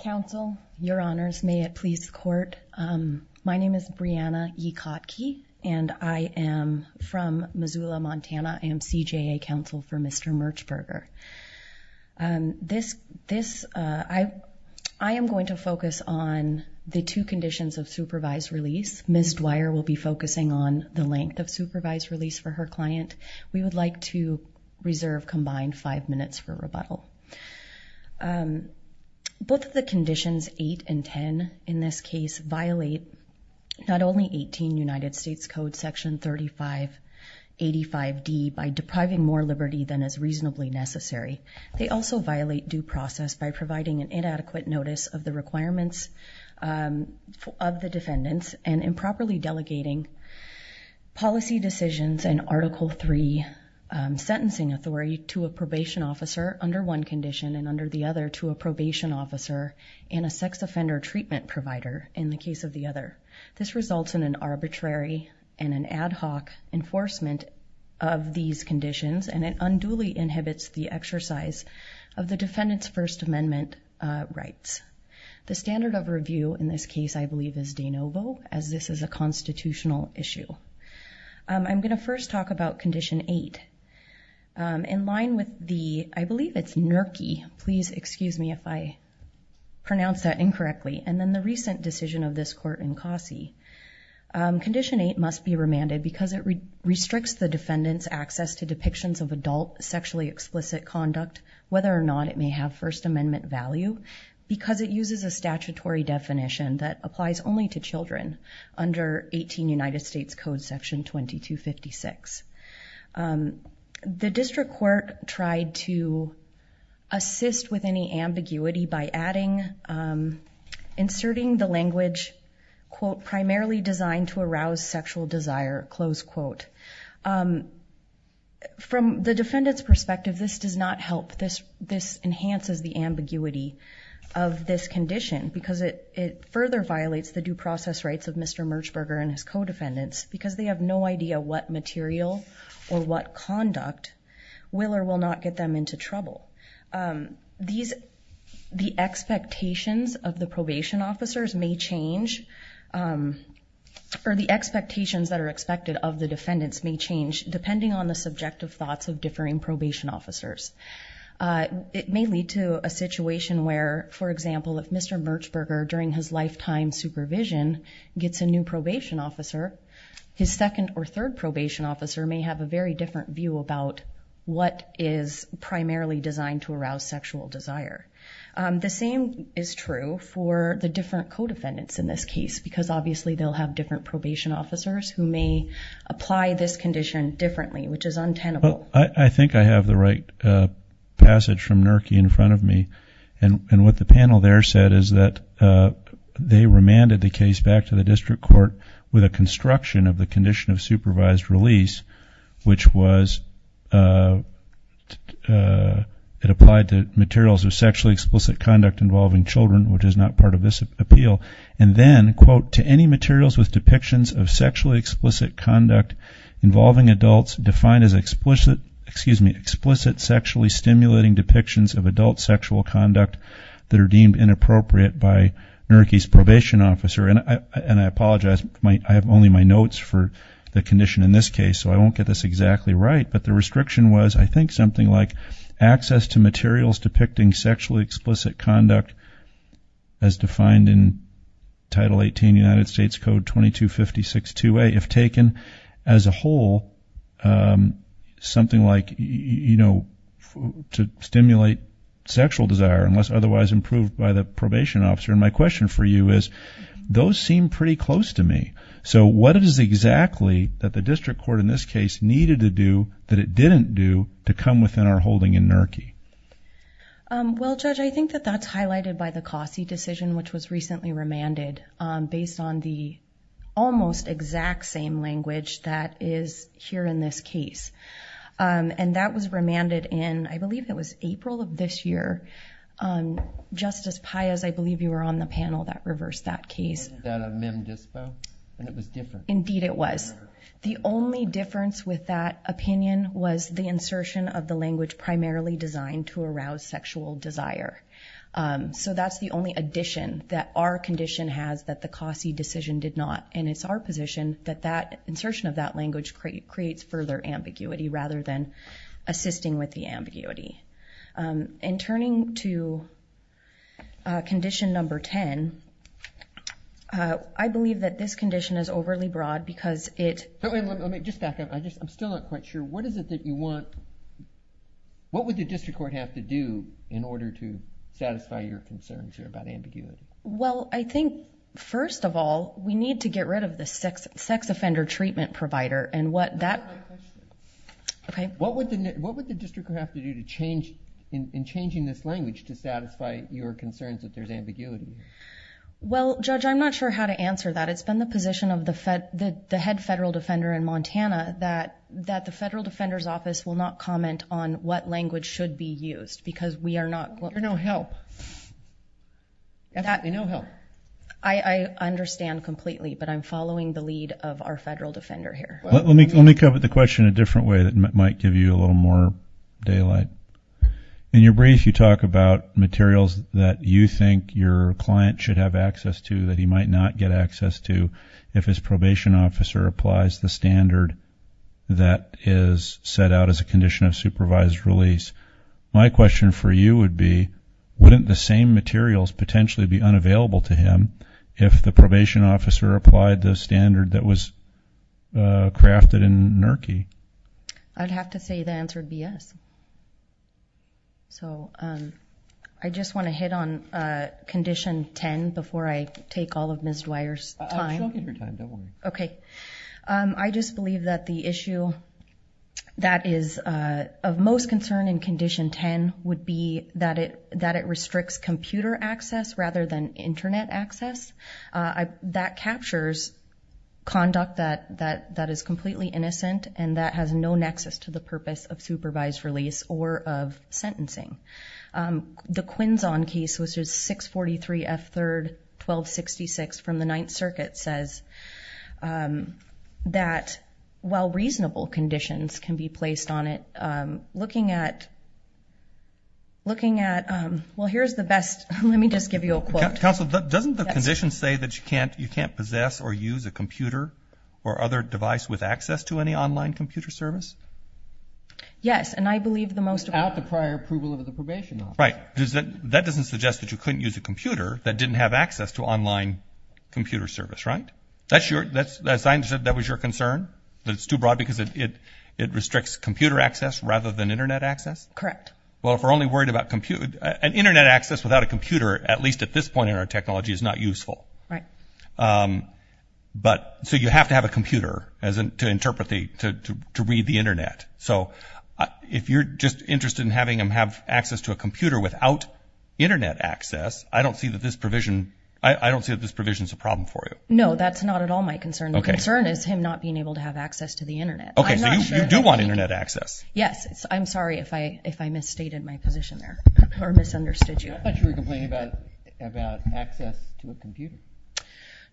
Counsel, Your Honors, may it please the Court, my name is Brianna E. Kotke, and I am from Missoula, Montana. I am CJA counsel for Mr. Merchberger. I am going to focus on the two conditions of supervised release. Ms. Dwyer will be focusing on the length of supervised release for her client. We would like to reserve combined five minutes for rebuttal. Both of the Conditions 8 and 10 in this case violate not only 18 United States Code Section 3585D by depriving more liberty than is reasonably necessary, they also violate due process by providing an inadequate notice of the requirements of the defendants and improperly delegating policy decisions and Article III sentencing authority to a probation officer under one condition and under the other to a probation officer and a sex offender treatment provider in the case of the other. This results in an arbitrary and an ad hoc enforcement of these conditions and it unduly inhibits the exercise of the defendant's First Amendment rights. The standard of review in this case, I believe, is de novo as this is a constitutional issue. I'm going to first talk about Condition 8. In line with the, I believe it's NERCI, please excuse me if I pronounce that incorrectly, and then the recent decision of this court in COSSI, Condition 8 must be remanded because it restricts the defendant's access to depictions of adult sexually explicit conduct, whether or not it may have First Amendment value, because it uses a statutory definition that applies only to children under 18 United States Code Section 2256. The district court tried to assist with any ambiguity by adding, inserting the language quote, primarily designed to arouse sexual desire, close quote. From the defendant's perspective, this does not help. This enhances the ambiguity of this condition because it further violates the due process rights of Mr. Merchberger and his co-defendants because they have no idea what material or what conduct will or will not get them into trouble. The expectations of the probation officers may change, or the expectations that are expected of the defendants may change, depending on the subjective thoughts of differing probation officers. It may lead to a situation where, for example, if Mr. Merchberger during his lifetime supervision gets a new probation officer, his second or third probation officer may have a very different view about what is primarily designed to arouse sexual desire. The same is true for the different co-defendants in this case because obviously they'll have different probation officers who may apply this condition differently, which is untenable. I think I have the right passage from NERCI in front of me, and what the panel there said is that they remanded the case back to the district court with a construction of the condition of supervised release, which was it applied to materials of sexually explicit conduct involving children, which is not part of this appeal, and then quote, to any materials with depictions of sexually explicit conduct involving adults defined as explicit sexually stimulating depictions of adult sexual conduct that are deemed inappropriate by NERCI's probation officer. And I apologize. I have only my notes for the condition in this case, so I won't get this exactly right, but the restriction was I think something like access to materials depicting sexually explicit conduct as defined in Title 18 United States Code 2256-2A if taken as a whole, something like, you know, to stimulate sexual desire unless otherwise improved by the probation officer. And my question for you is those seem pretty close to me. So what it is exactly that the district court in this case needed to do that it didn't do to come within our holding in NERCI? Well, Judge, I think that that's highlighted by the Cossie decision, which was recently remanded based on the almost exact same language that is here in this case. And that was remanded in, I believe it was April of this year. Justice Payas, I believe you were on the panel that reversed that case. Was that a mem dispo? And it was different. Indeed, it was. The only difference with that opinion was the insertion of the language primarily designed to arouse sexual desire. So that's the only addition that our condition has that the Cossie decision did not. And it's our position that that insertion of that language creates further ambiguity rather than assisting with the ambiguity. In turning to condition number 10, I believe that this condition is overly broad because it... Let me just back up. I'm still not quite sure. What is it that you want... what would the district court have to do in order to satisfy your concerns here about ambiguity? Well, I think, first of all, we need to get rid of the sex offender treatment provider. And what that... Answer my question. Okay. What would the district court have to do to change... in changing this language to satisfy your concerns that there's ambiguity? Well, Judge, I'm not sure how to answer that. It's been the position of the head federal defender in Montana that the federal defender's office will not comment on what language should be used because we are not... You're no help. Definitely no help. I understand completely, but I'm following the lead of our federal defender here. Let me cover the question a different way that might give you a little more daylight. In your brief, you talk about materials that you think your client should have access to that he might not get access to if his probation officer applies the standard that is set out as a condition of supervised release. My question for you would be, wouldn't the same materials potentially be unavailable to him if the probation officer applied the standard that was crafted in NERCI? I'd have to say the answer would be yes. So I just want to hit on Condition 10 before I take all of Ms. Dwyer's time. I'll show you your time. Don't worry. Okay. I just believe that the issue that is of most concern in Condition 10 would be that it restricts computer access rather than Internet access. That captures conduct that is completely innocent and that has no nexus to the purpose of supervised release or of sentencing. The Quinzon case, which is 643 F. 3rd, 1266 from the Ninth Circuit, says that while reasonable Let me just give you a quote. Counsel, doesn't the condition say that you can't possess or use a computer or other device with access to any online computer service? Yes. And I believe the most of... Without the prior approval of the probation officer. Right. That doesn't suggest that you couldn't use a computer that didn't have access to online computer service. Right? That's your... That was your concern, that it's too broad because it restricts computer access rather than Internet access? Correct. Well, if we're only worried about computer... An Internet access without a computer, at least at this point in our technology, is not useful. Right. But... So you have to have a computer to interpret the... To read the Internet. So if you're just interested in having him have access to a computer without Internet access, I don't see that this provision... I don't see that this provision is a problem for you. No, that's not at all my concern. The concern is him not being able to have access to the Internet. Okay. So you do want Internet access? Yes. I'm sorry if I misstated my position there or misunderstood you. I thought you were complaining about access to a computer.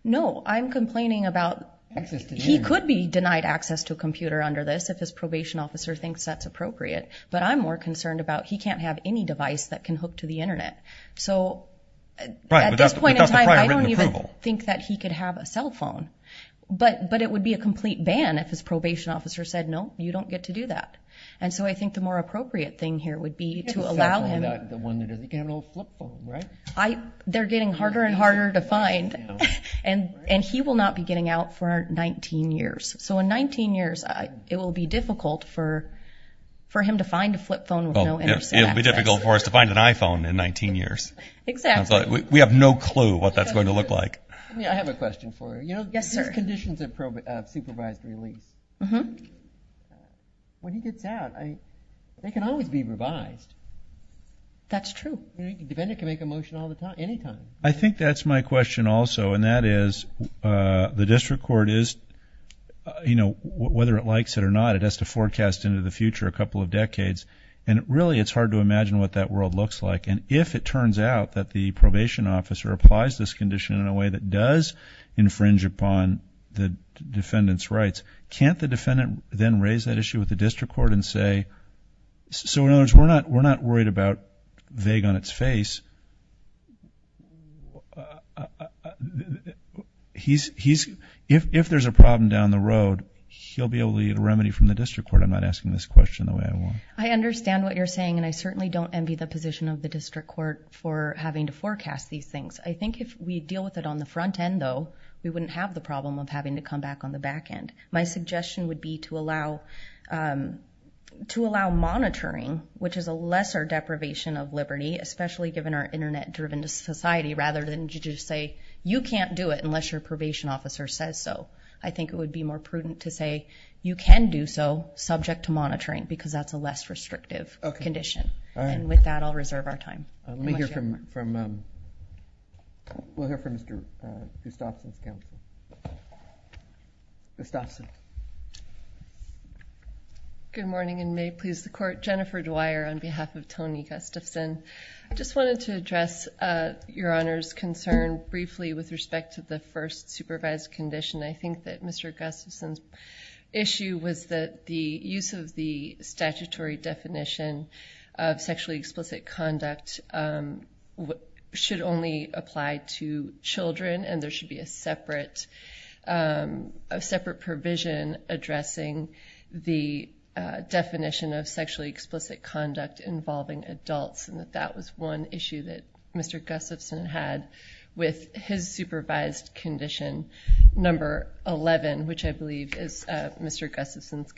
No, I'm complaining about... Access to the Internet. He could be denied access to a computer under this if his probation officer thinks that's appropriate, but I'm more concerned about he can't have any device that can hook to So... Right. Without the prior written approval. At this point in time, I don't even think that he could have a cell phone. But it would be a complete ban if his probation officer said, no, you don't get to do that. And so I think the more appropriate thing here would be to allow him... You can't have a cell phone, not the one that doesn't have an old flip phone, right? They're getting harder and harder to find. And he will not be getting out for 19 years. So in 19 years, it will be difficult for him to find a flip phone with no Internet access. It will be difficult for us to find an iPhone in 19 years. Exactly. We have no clue what that's going to look like. I have a question for you. Yes, sir. These conditions of supervised release. Mm-hmm. When he gets out, they can always be revised. That's true. The defendant can make a motion all the time, anytime. I think that's my question also, and that is, the district court is, you know, whether it likes it or not, it has to forecast into the future a couple of decades. And really, it's hard to imagine what that world looks like. And if it turns out that the probation officer applies this condition in a way that does infringe upon the defendant's rights, can't the defendant then raise that issue with the district court and say, so in other words, we're not worried about vague on its face. If there's a problem down the road, he'll be able to get a remedy from the district court. I'm not asking this question the way I want. I understand what you're saying, and I certainly don't envy the position of the district court for having to forecast these things. I think if we deal with it on the front end, though, we wouldn't have the problem of having to come back on the back end. My suggestion would be to allow monitoring, which is a lesser deprivation of liberty, especially given our internet-driven society, rather than to just say, you can't do it unless your probation officer says so. I think it would be more prudent to say, you can do so, subject to monitoring, because that's a less restrictive condition. And with that, I'll reserve our time. Let me hear from, we'll hear from Mr. Gustafson's counsel. Gustafson. Good morning, and may it please the Court. Jennifer Dwyer on behalf of Tony Gustafson. I just wanted to address Your Honor's concern briefly with respect to the first supervised condition. I think that Mr. Gustafson's issue was that the use of the statutory definition of sexually explicit conduct should only apply to children, and there should be a separate provision addressing the definition of sexually explicit conduct involving adults, and that that was one issue that Mr. Gustafson had with his supervised condition number 11, which I believe is Mr. Merchberger's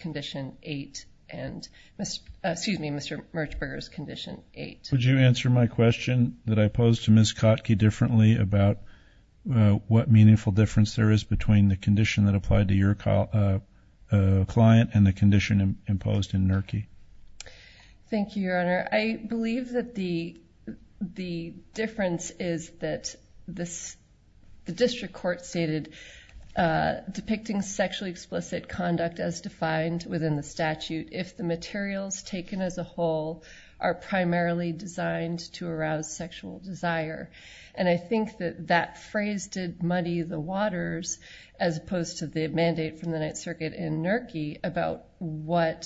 condition 8. Would you answer my question that I posed to Ms. Kotke differently about what meaningful difference there is between the condition that applied to your client and the condition imposed in NERCI? Thank you, Your Honor. I believe that the difference is that the district court stated, depicting sexually explicit conduct as defined within the statute, if the materials taken as a whole are primarily designed to arouse sexual desire. And I think that that phrase did muddy the waters, as opposed to the mandate from the Ninth Circuit in NERCI about what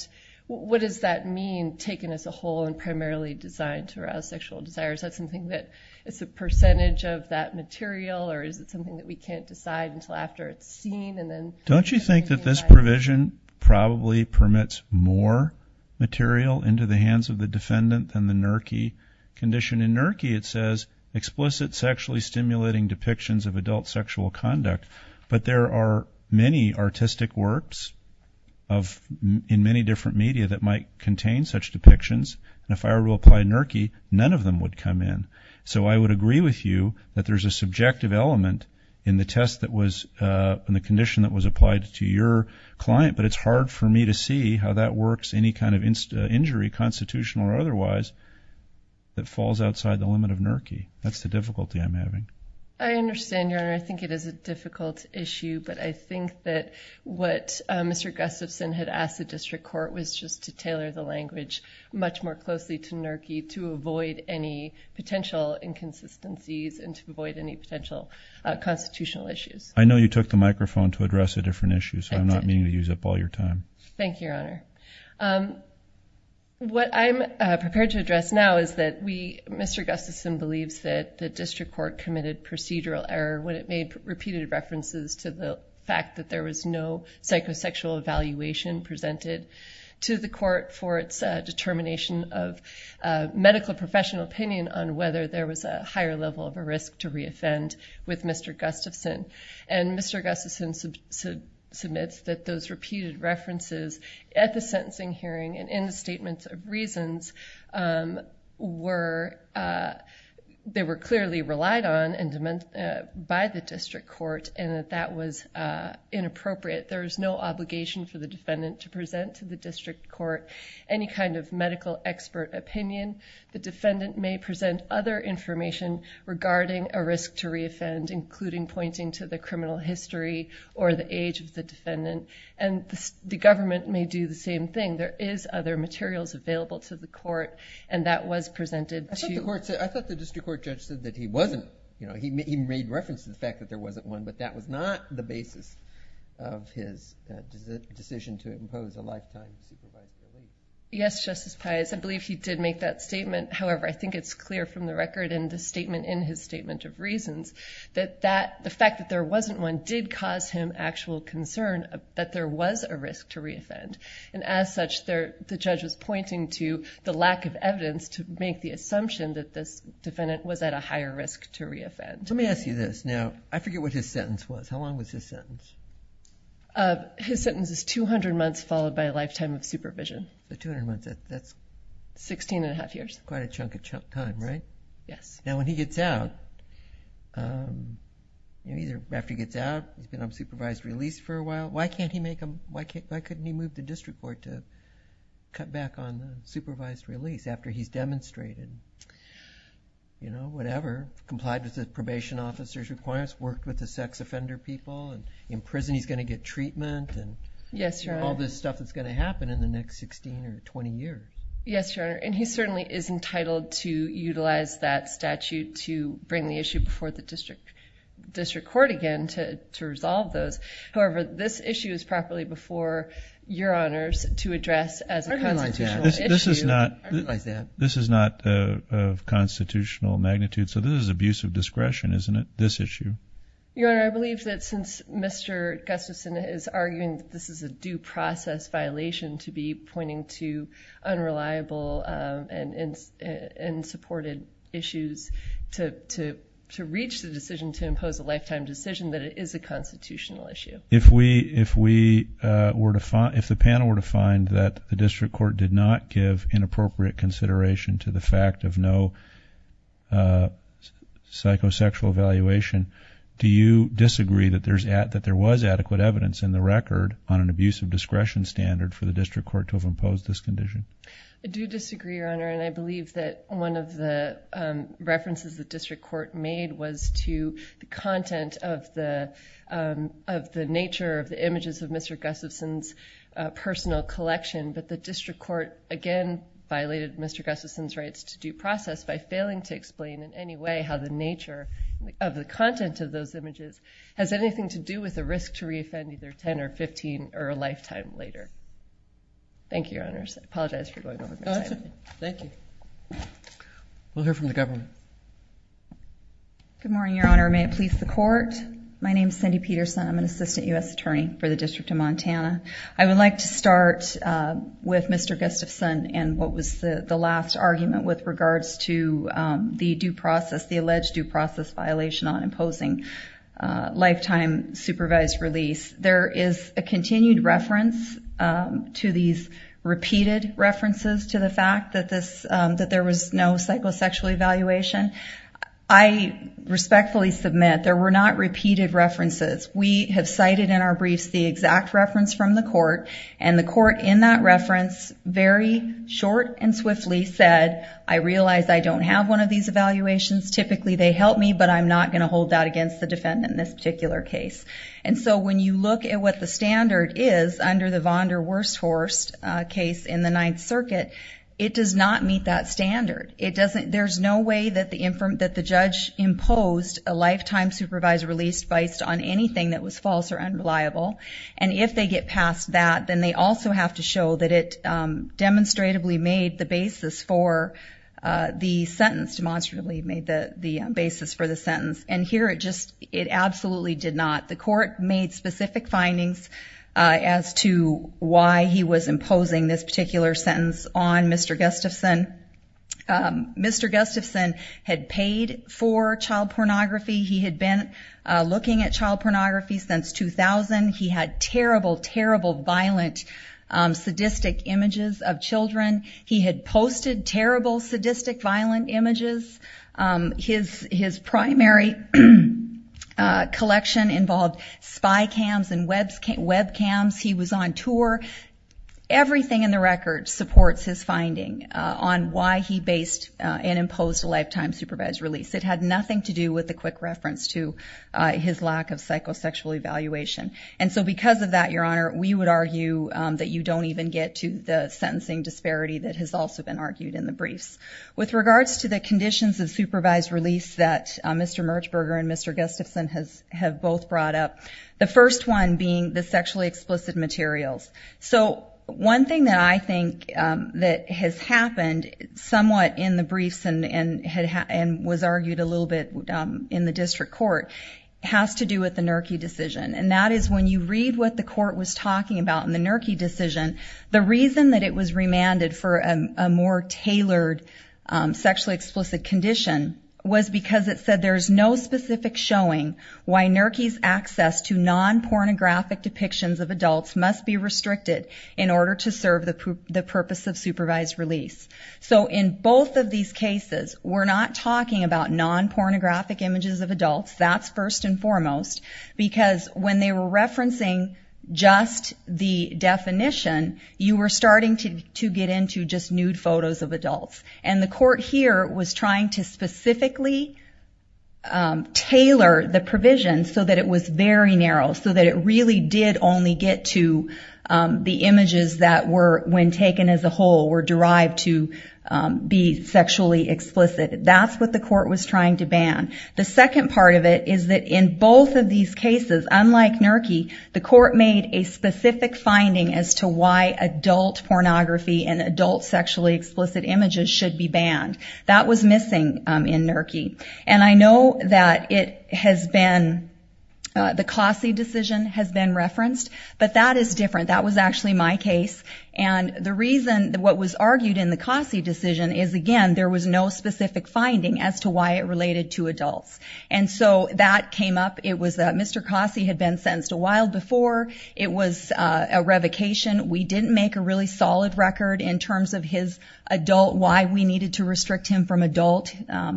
does that mean, taken as a whole and primarily designed to arouse sexual desire? Is that something that is a percentage of that material, or is it something that we can't decide until after it's seen and then— Don't you think that this provision probably permits more material into the hands of the defendant than the NERCI condition? In NERCI it says, explicit sexually stimulating depictions of adult sexual conduct. But there are many artistic works in many different media that might contain such depictions, and if I were to apply NERCI, none of them would come in. So I would agree with you that there's a subjective element in the test that was—in NERCI that was applied to your client, but it's hard for me to see how that works any kind of injury, constitutional or otherwise, that falls outside the limit of NERCI. That's the difficulty I'm having. I understand, Your Honor. I think it is a difficult issue, but I think that what Mr. Gustafson had asked the district court was just to tailor the language much more closely to NERCI to avoid any potential inconsistencies and to avoid any potential constitutional issues. I know you took the microphone to address a different issue, so I'm not meaning to use up all your time. Thank you, Your Honor. What I'm prepared to address now is that we—Mr. Gustafson believes that the district court committed procedural error when it made repeated references to the fact that there was no psychosexual evaluation presented to the court for its determination of medical professional opinion on whether there was a higher level of a risk to reoffend with Mr. Gustafson. Mr. Gustafson submits that those repeated references at the sentencing hearing and in the statements of reasons, they were clearly relied on by the district court and that that was inappropriate. There was no obligation for the defendant to present to the district court any kind of medical expert opinion. The defendant may present other information regarding a risk to reoffend, including pointing to the criminal history or the age of the defendant, and the government may do the same thing. There is other materials available to the court, and that was presented to— I thought the district court judge said that he wasn't—he made reference to the fact that there wasn't one, but that was not the basis of his decision to impose a lifetime supervised evaluation. Yes, Justice Pius. I believe he did make that statement. However, I think it's clear from the record in the statement in his statement of reasons that the fact that there wasn't one did cause him actual concern that there was a risk to reoffend, and as such, the judge was pointing to the lack of evidence to make the assumption that this defendant was at a higher risk to reoffend. Let me ask you this. Now, I forget what his sentence was. How long was his sentence? His sentence is two hundred months followed by a lifetime of supervision. Two hundred months, that's... Sixteen and a half years. Quite a chunk of time, right? Yes. Now, when he gets out, after he gets out, he's going to have supervised release for a while. Why couldn't he move the district court to cut back on the supervised release after he's demonstrated, you know, whatever, complied with the probation officer's requirements, worked with the sex offender people, and in prison he's going to get treatment and... Yes, Your Honor.... all this stuff that's going to happen in the next sixteen or twenty years? Yes, Your Honor, and he certainly is entitled to utilize that statute to bring the issue before the district court again to resolve those. However, this issue is properly before Your Honors to address as a constitutional issue. This is not of constitutional magnitude, so this is abuse of discretion, isn't it, this issue? Your Honor, I believe that since Mr. Gustafson is arguing that this is a due process violation to be pointing to unreliable and unsupported issues to reach the decision to impose a lifetime decision that it is a constitutional issue. If we were to find... if the panel were to find that the district court did not give inappropriate consideration to the fact of no psychosexual evaluation, do you disagree that there's... that there was adequate evidence in the record on an abuse of discretion standard for the district court to have imposed this condition? I do disagree, Your Honor, and I believe that one of the references the district court made was to the content of the... of the nature of the images of Mr. Gustafson's personal collection, but the district court, again, violated Mr. Gustafson's rights to due process by failing to explain in any way how the nature of the content of those images has anything to do with the risk to re-offend either 10 or 15 or a lifetime later. Thank you, Your Honors. I apologize for going over my time. No, that's okay. Thank you. We'll hear from the government. Good morning, Your Honor. May it please the court. My name is Cindy Peterson. I'm an assistant U.S. attorney for the District of Montana. I would like to start with Mr. Gustafson and what was the last argument with regards to the due process, the alleged due process violation on imposing lifetime supervised release. There is a continued reference to these... repeated references to the fact that this... that there was no psychosexual evaluation. I respectfully submit there were not repeated references. We have cited in our briefs the exact reference from the court, and the court in that reference very short and swiftly said, I realize I don't have one of these evaluations. Typically they help me, but I'm not going to hold that against the defendant in this particular case. And so when you look at what the standard is under the Vonderwersthorst case in the Ninth Circuit, it does not meet that standard. It doesn't... there's no way that the... that the judge imposed a lifetime supervised release based on anything that was false or unreliable. And if they get past that, then they also have to show that it demonstrably made the basis for the sentence, demonstrably made the basis for the sentence. And here it just... it absolutely did not. The court made specific findings as to why he was imposing this particular sentence on Mr. Gustafson. Mr. Gustafson had paid for child pornography. He had been looking at child pornography since 2000. He had terrible, terrible, violent, sadistic images of children. He had posted terrible, sadistic, violent images. His primary collection involved spy cams and webcams. He was on tour. Everything in the record supports his finding on why he based and imposed a lifetime supervised release. It had nothing to do with the quick reference to his lack of psychosexual evaluation. And so because of that, Your Honor, we would argue that you don't even get to the sentencing disparity that has also been argued in the briefs. With regards to the conditions of supervised release that Mr. Merchberger and Mr. Gustafson have both brought up, the first one being the sexually explicit materials. So one thing that I think that has happened somewhat in the briefs and was argued a little bit in the district court has to do with the NERCI decision. And that is when you read what the court was talking about in the NERCI decision, the reason that it was remanded for a more tailored sexually explicit condition was because it said there is no specific showing why NERCI's access to non-pornographic depictions of adults must be restricted in order to serve the purpose of supervised release. So in both of these cases, we're not talking about non-pornographic images of adults. That's first and foremost. Because when they were referencing just the definition, you were starting to get into just nude photos of adults. And the court here was trying to specifically tailor the provision so that it was very narrow, so that it really did only get to the images that were, when taken as a whole, were derived to be sexually explicit. That's what the court was trying to ban. The second part of it is that in both of these cases, unlike NERCI, the court made a specific finding as to why adult pornography and adult sexually explicit images should be banned. That was missing in NERCI. And I know that it has been, the Cossie decision has been referenced, but that is different. That was actually my case. And the reason what was argued in the Cossie decision is, again, there was no specific finding as to why it related to adults. And so that came up. It was that Mr. Cossie had been sentenced a while before. It was a revocation. We didn't make a really solid record in terms of his adult, why we needed to restrict him from adult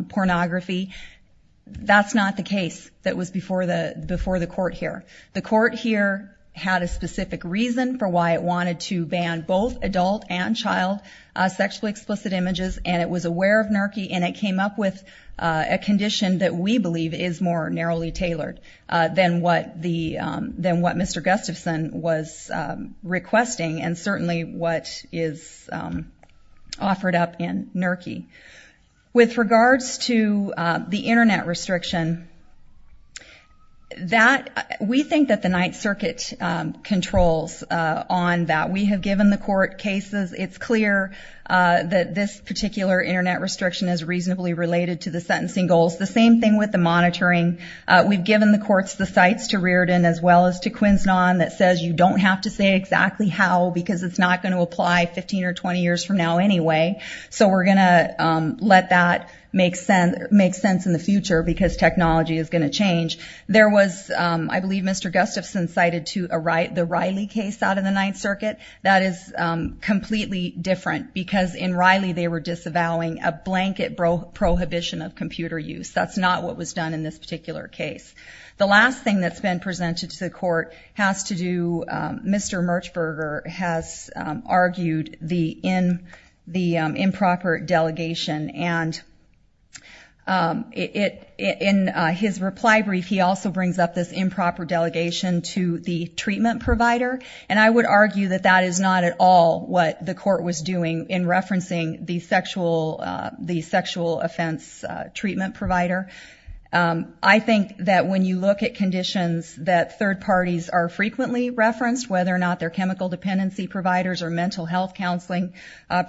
pornography. That's not the case that was before the court here. The court here had a specific reason for why it wanted to ban both adult and child sexually explicit images, and it was aware of NERCI, and it came up with a condition that we believe is more narrowly tailored than what Mr. Gustafson was requesting, and certainly what is offered up in NERCI. With regards to the internet restriction, that, we think that the Ninth Circuit controls on that. We have given the court cases. It's clear that this particular internet restriction is reasonably related to the sentencing goals. The same thing with the monitoring. We've given the courts the sites to Riordan as well as to Quinznon that says you don't have to say exactly how because it's not going to apply 15 or 20 years from now anyway, so we're going to let that make sense in the future because technology is going to change. There was, I believe Mr. Gustafson cited the Riley case out of the Ninth Circuit. That is completely different because in Riley they were disavowing a blanket prohibition of computer use. That's not what was done in this particular case. The last thing that's been presented to the court has to do, Mr. Merchberger has argued the improper delegation and in his reply brief he also brings up this improper delegation to the treatment provider, and I would argue that that is not at all what the court was doing in referencing the sexual offense treatment provider. I think that when you look at conditions that third parties are frequently referenced, whether or not they're chemical dependency providers or mental health counseling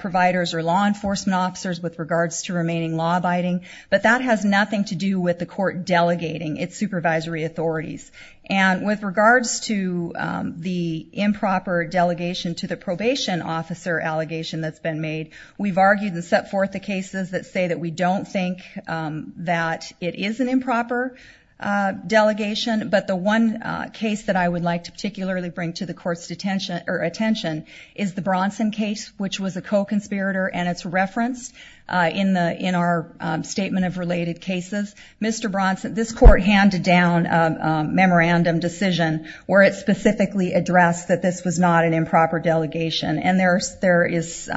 providers or law enforcement officers with regards to remaining law abiding, but that has nothing to do with the court delegating its supervisory authorities. With regards to the improper delegation to the probation officer allegation that's been It is an improper delegation, but the one case that I would like to particularly bring to the court's attention is the Bronson case, which was a co-conspirator and it's referenced in our statement of related cases. Mr. Bronson, this court handed down a memorandum decision where it specifically addressed that this was not an improper delegation, and there is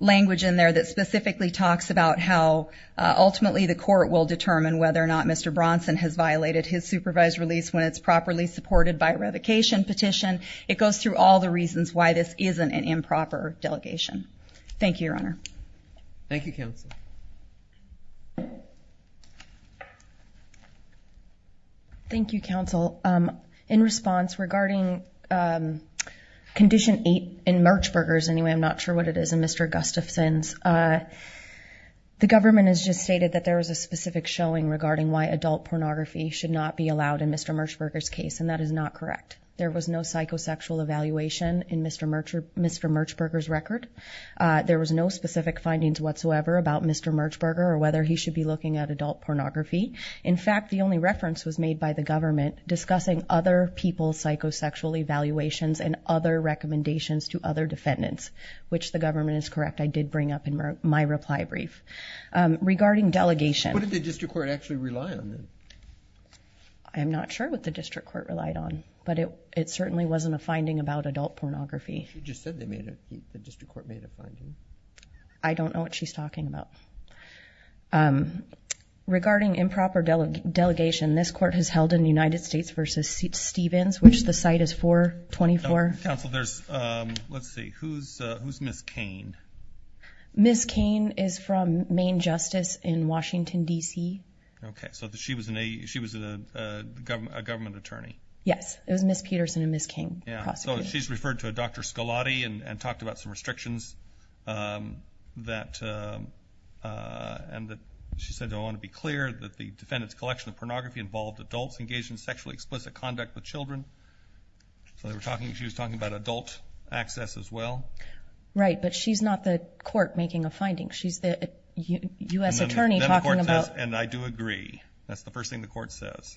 language in there that specifically talks about how ultimately the court will determine whether or not Mr. Bronson has violated his supervised release when it's properly supported by revocation petition. It goes through all the reasons why this isn't an improper delegation. Thank you, Your Honor. Thank you, Counsel. Thank you, Counsel. In response, regarding condition eight in Merchburgers, anyway, I'm not sure what it is in Mr. Gustafson's. The government has just stated that there was a specific showing regarding why adult pornography should not be allowed in Mr. Merchburger's case, and that is not correct. There was no psychosexual evaluation in Mr. Merchburger's record. There was no specific findings whatsoever about Mr. Merchburger or whether he should be looking at adult pornography. In fact, the only reference was made by the government discussing other people's psychosexual evaluations and other recommendations to other defendants, which the government is correct. I did bring up in my reply brief. Regarding delegation— What did the district court actually rely on? I'm not sure what the district court relied on, but it certainly wasn't a finding about adult pornography. You just said they made a—the district court made a finding. I don't know what she's talking about. Regarding improper delegation, this court has held in the United States v. Stevens, which the site is for, 24— Counsel, there's—let's see, who's Ms. Cain? Ms. Cain is from Maine Justice in Washington, D.C. Okay, so she was a government attorney. Yes, it was Ms. Peterson and Ms. Cain, the prosecutors. So she's referred to a Dr. Scolati and talked about some restrictions that—and that she said, I want to be clear, that the defendant's collection of pornography involved adults engaged in sexually explicit conduct with children. So they were talking—she was talking about adult access as well. Right, but she's not the court making a finding. She's the U.S. attorney talking about— And then the court says, and I do agree. That's the first thing the court says.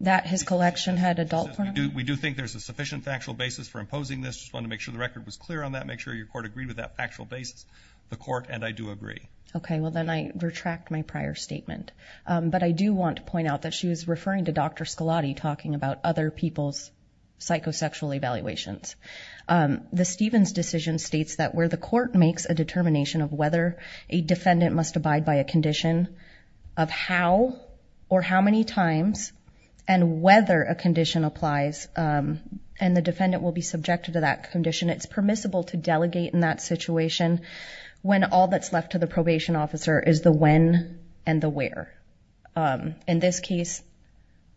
That his collection had adult pornography? We do think there's a sufficient factual basis for imposing this. Just wanted to make sure the record was clear on that, make sure your court agreed with that factual basis, the court, and I do agree. Okay, well, then I retract my prior statement, but I do want to point out that she was referring to Dr. Scolati talking about other people's psychosexual evaluations. The Stevens decision states that where the court makes a determination of whether a defendant must abide by a condition, of how or how many times, and whether a condition applies, and the defendant will be subjected to that condition, it's permissible to delegate in that situation when all that's left to the probation officer is the when and the where. In this case,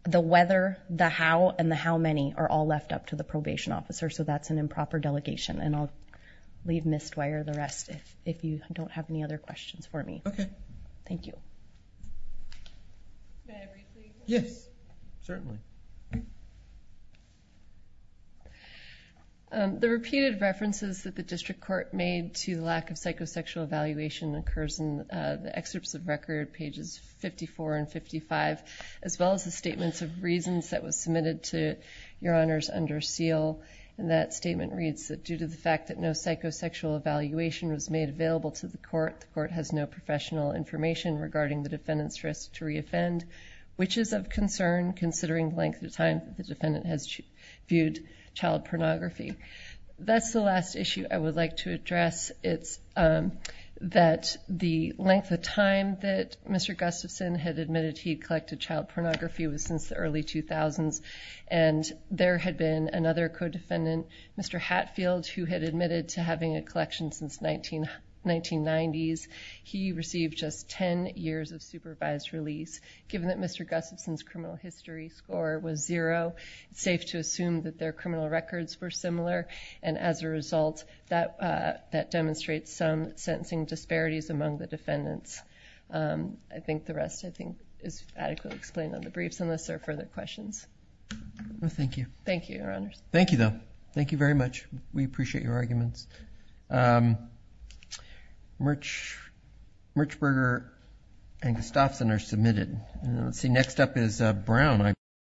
the whether, the how, and the how many are all left up to the probation officer, so that's an improper delegation, and I'll leave Ms. Dwyer the rest if you don't have any other questions for me. Okay. Thank you. May I briefly? Yes. Certainly. The repeated references that the district court made to the lack of psychosexual evaluation occurs in the excerpts of record, pages 54 and 55, as well as the statements of reasons that was submitted to your honors under seal, and that statement reads that due to the fact that no psychosexual evaluation was made available to the court, the court has no professional information regarding the defendant's risk to re-offend, which is of concern considering the length of time the defendant has viewed child pornography. That's the last issue I would like to address. It's that the length of time that Mr. Gustafson had admitted he'd collected child pornography was since the early 2000s, and there had been another co-defendant, Mr. Hatfield, who had admitted to having a collection since the 1990s. He received just 10 years of supervised release. Given that Mr. Gustafson's criminal history score was zero, it's safe to assume that their cases are similar, and as a result, that demonstrates some sentencing disparities among the defendants. I think the rest, I think, is adequately explained on the briefs, unless there are further questions. Thank you. Thank you, your honors. Thank you, though. Thank you very much. We appreciate your arguments. Merchberger and Gustafson are submitted. Let's see, next up is Brown, I believe.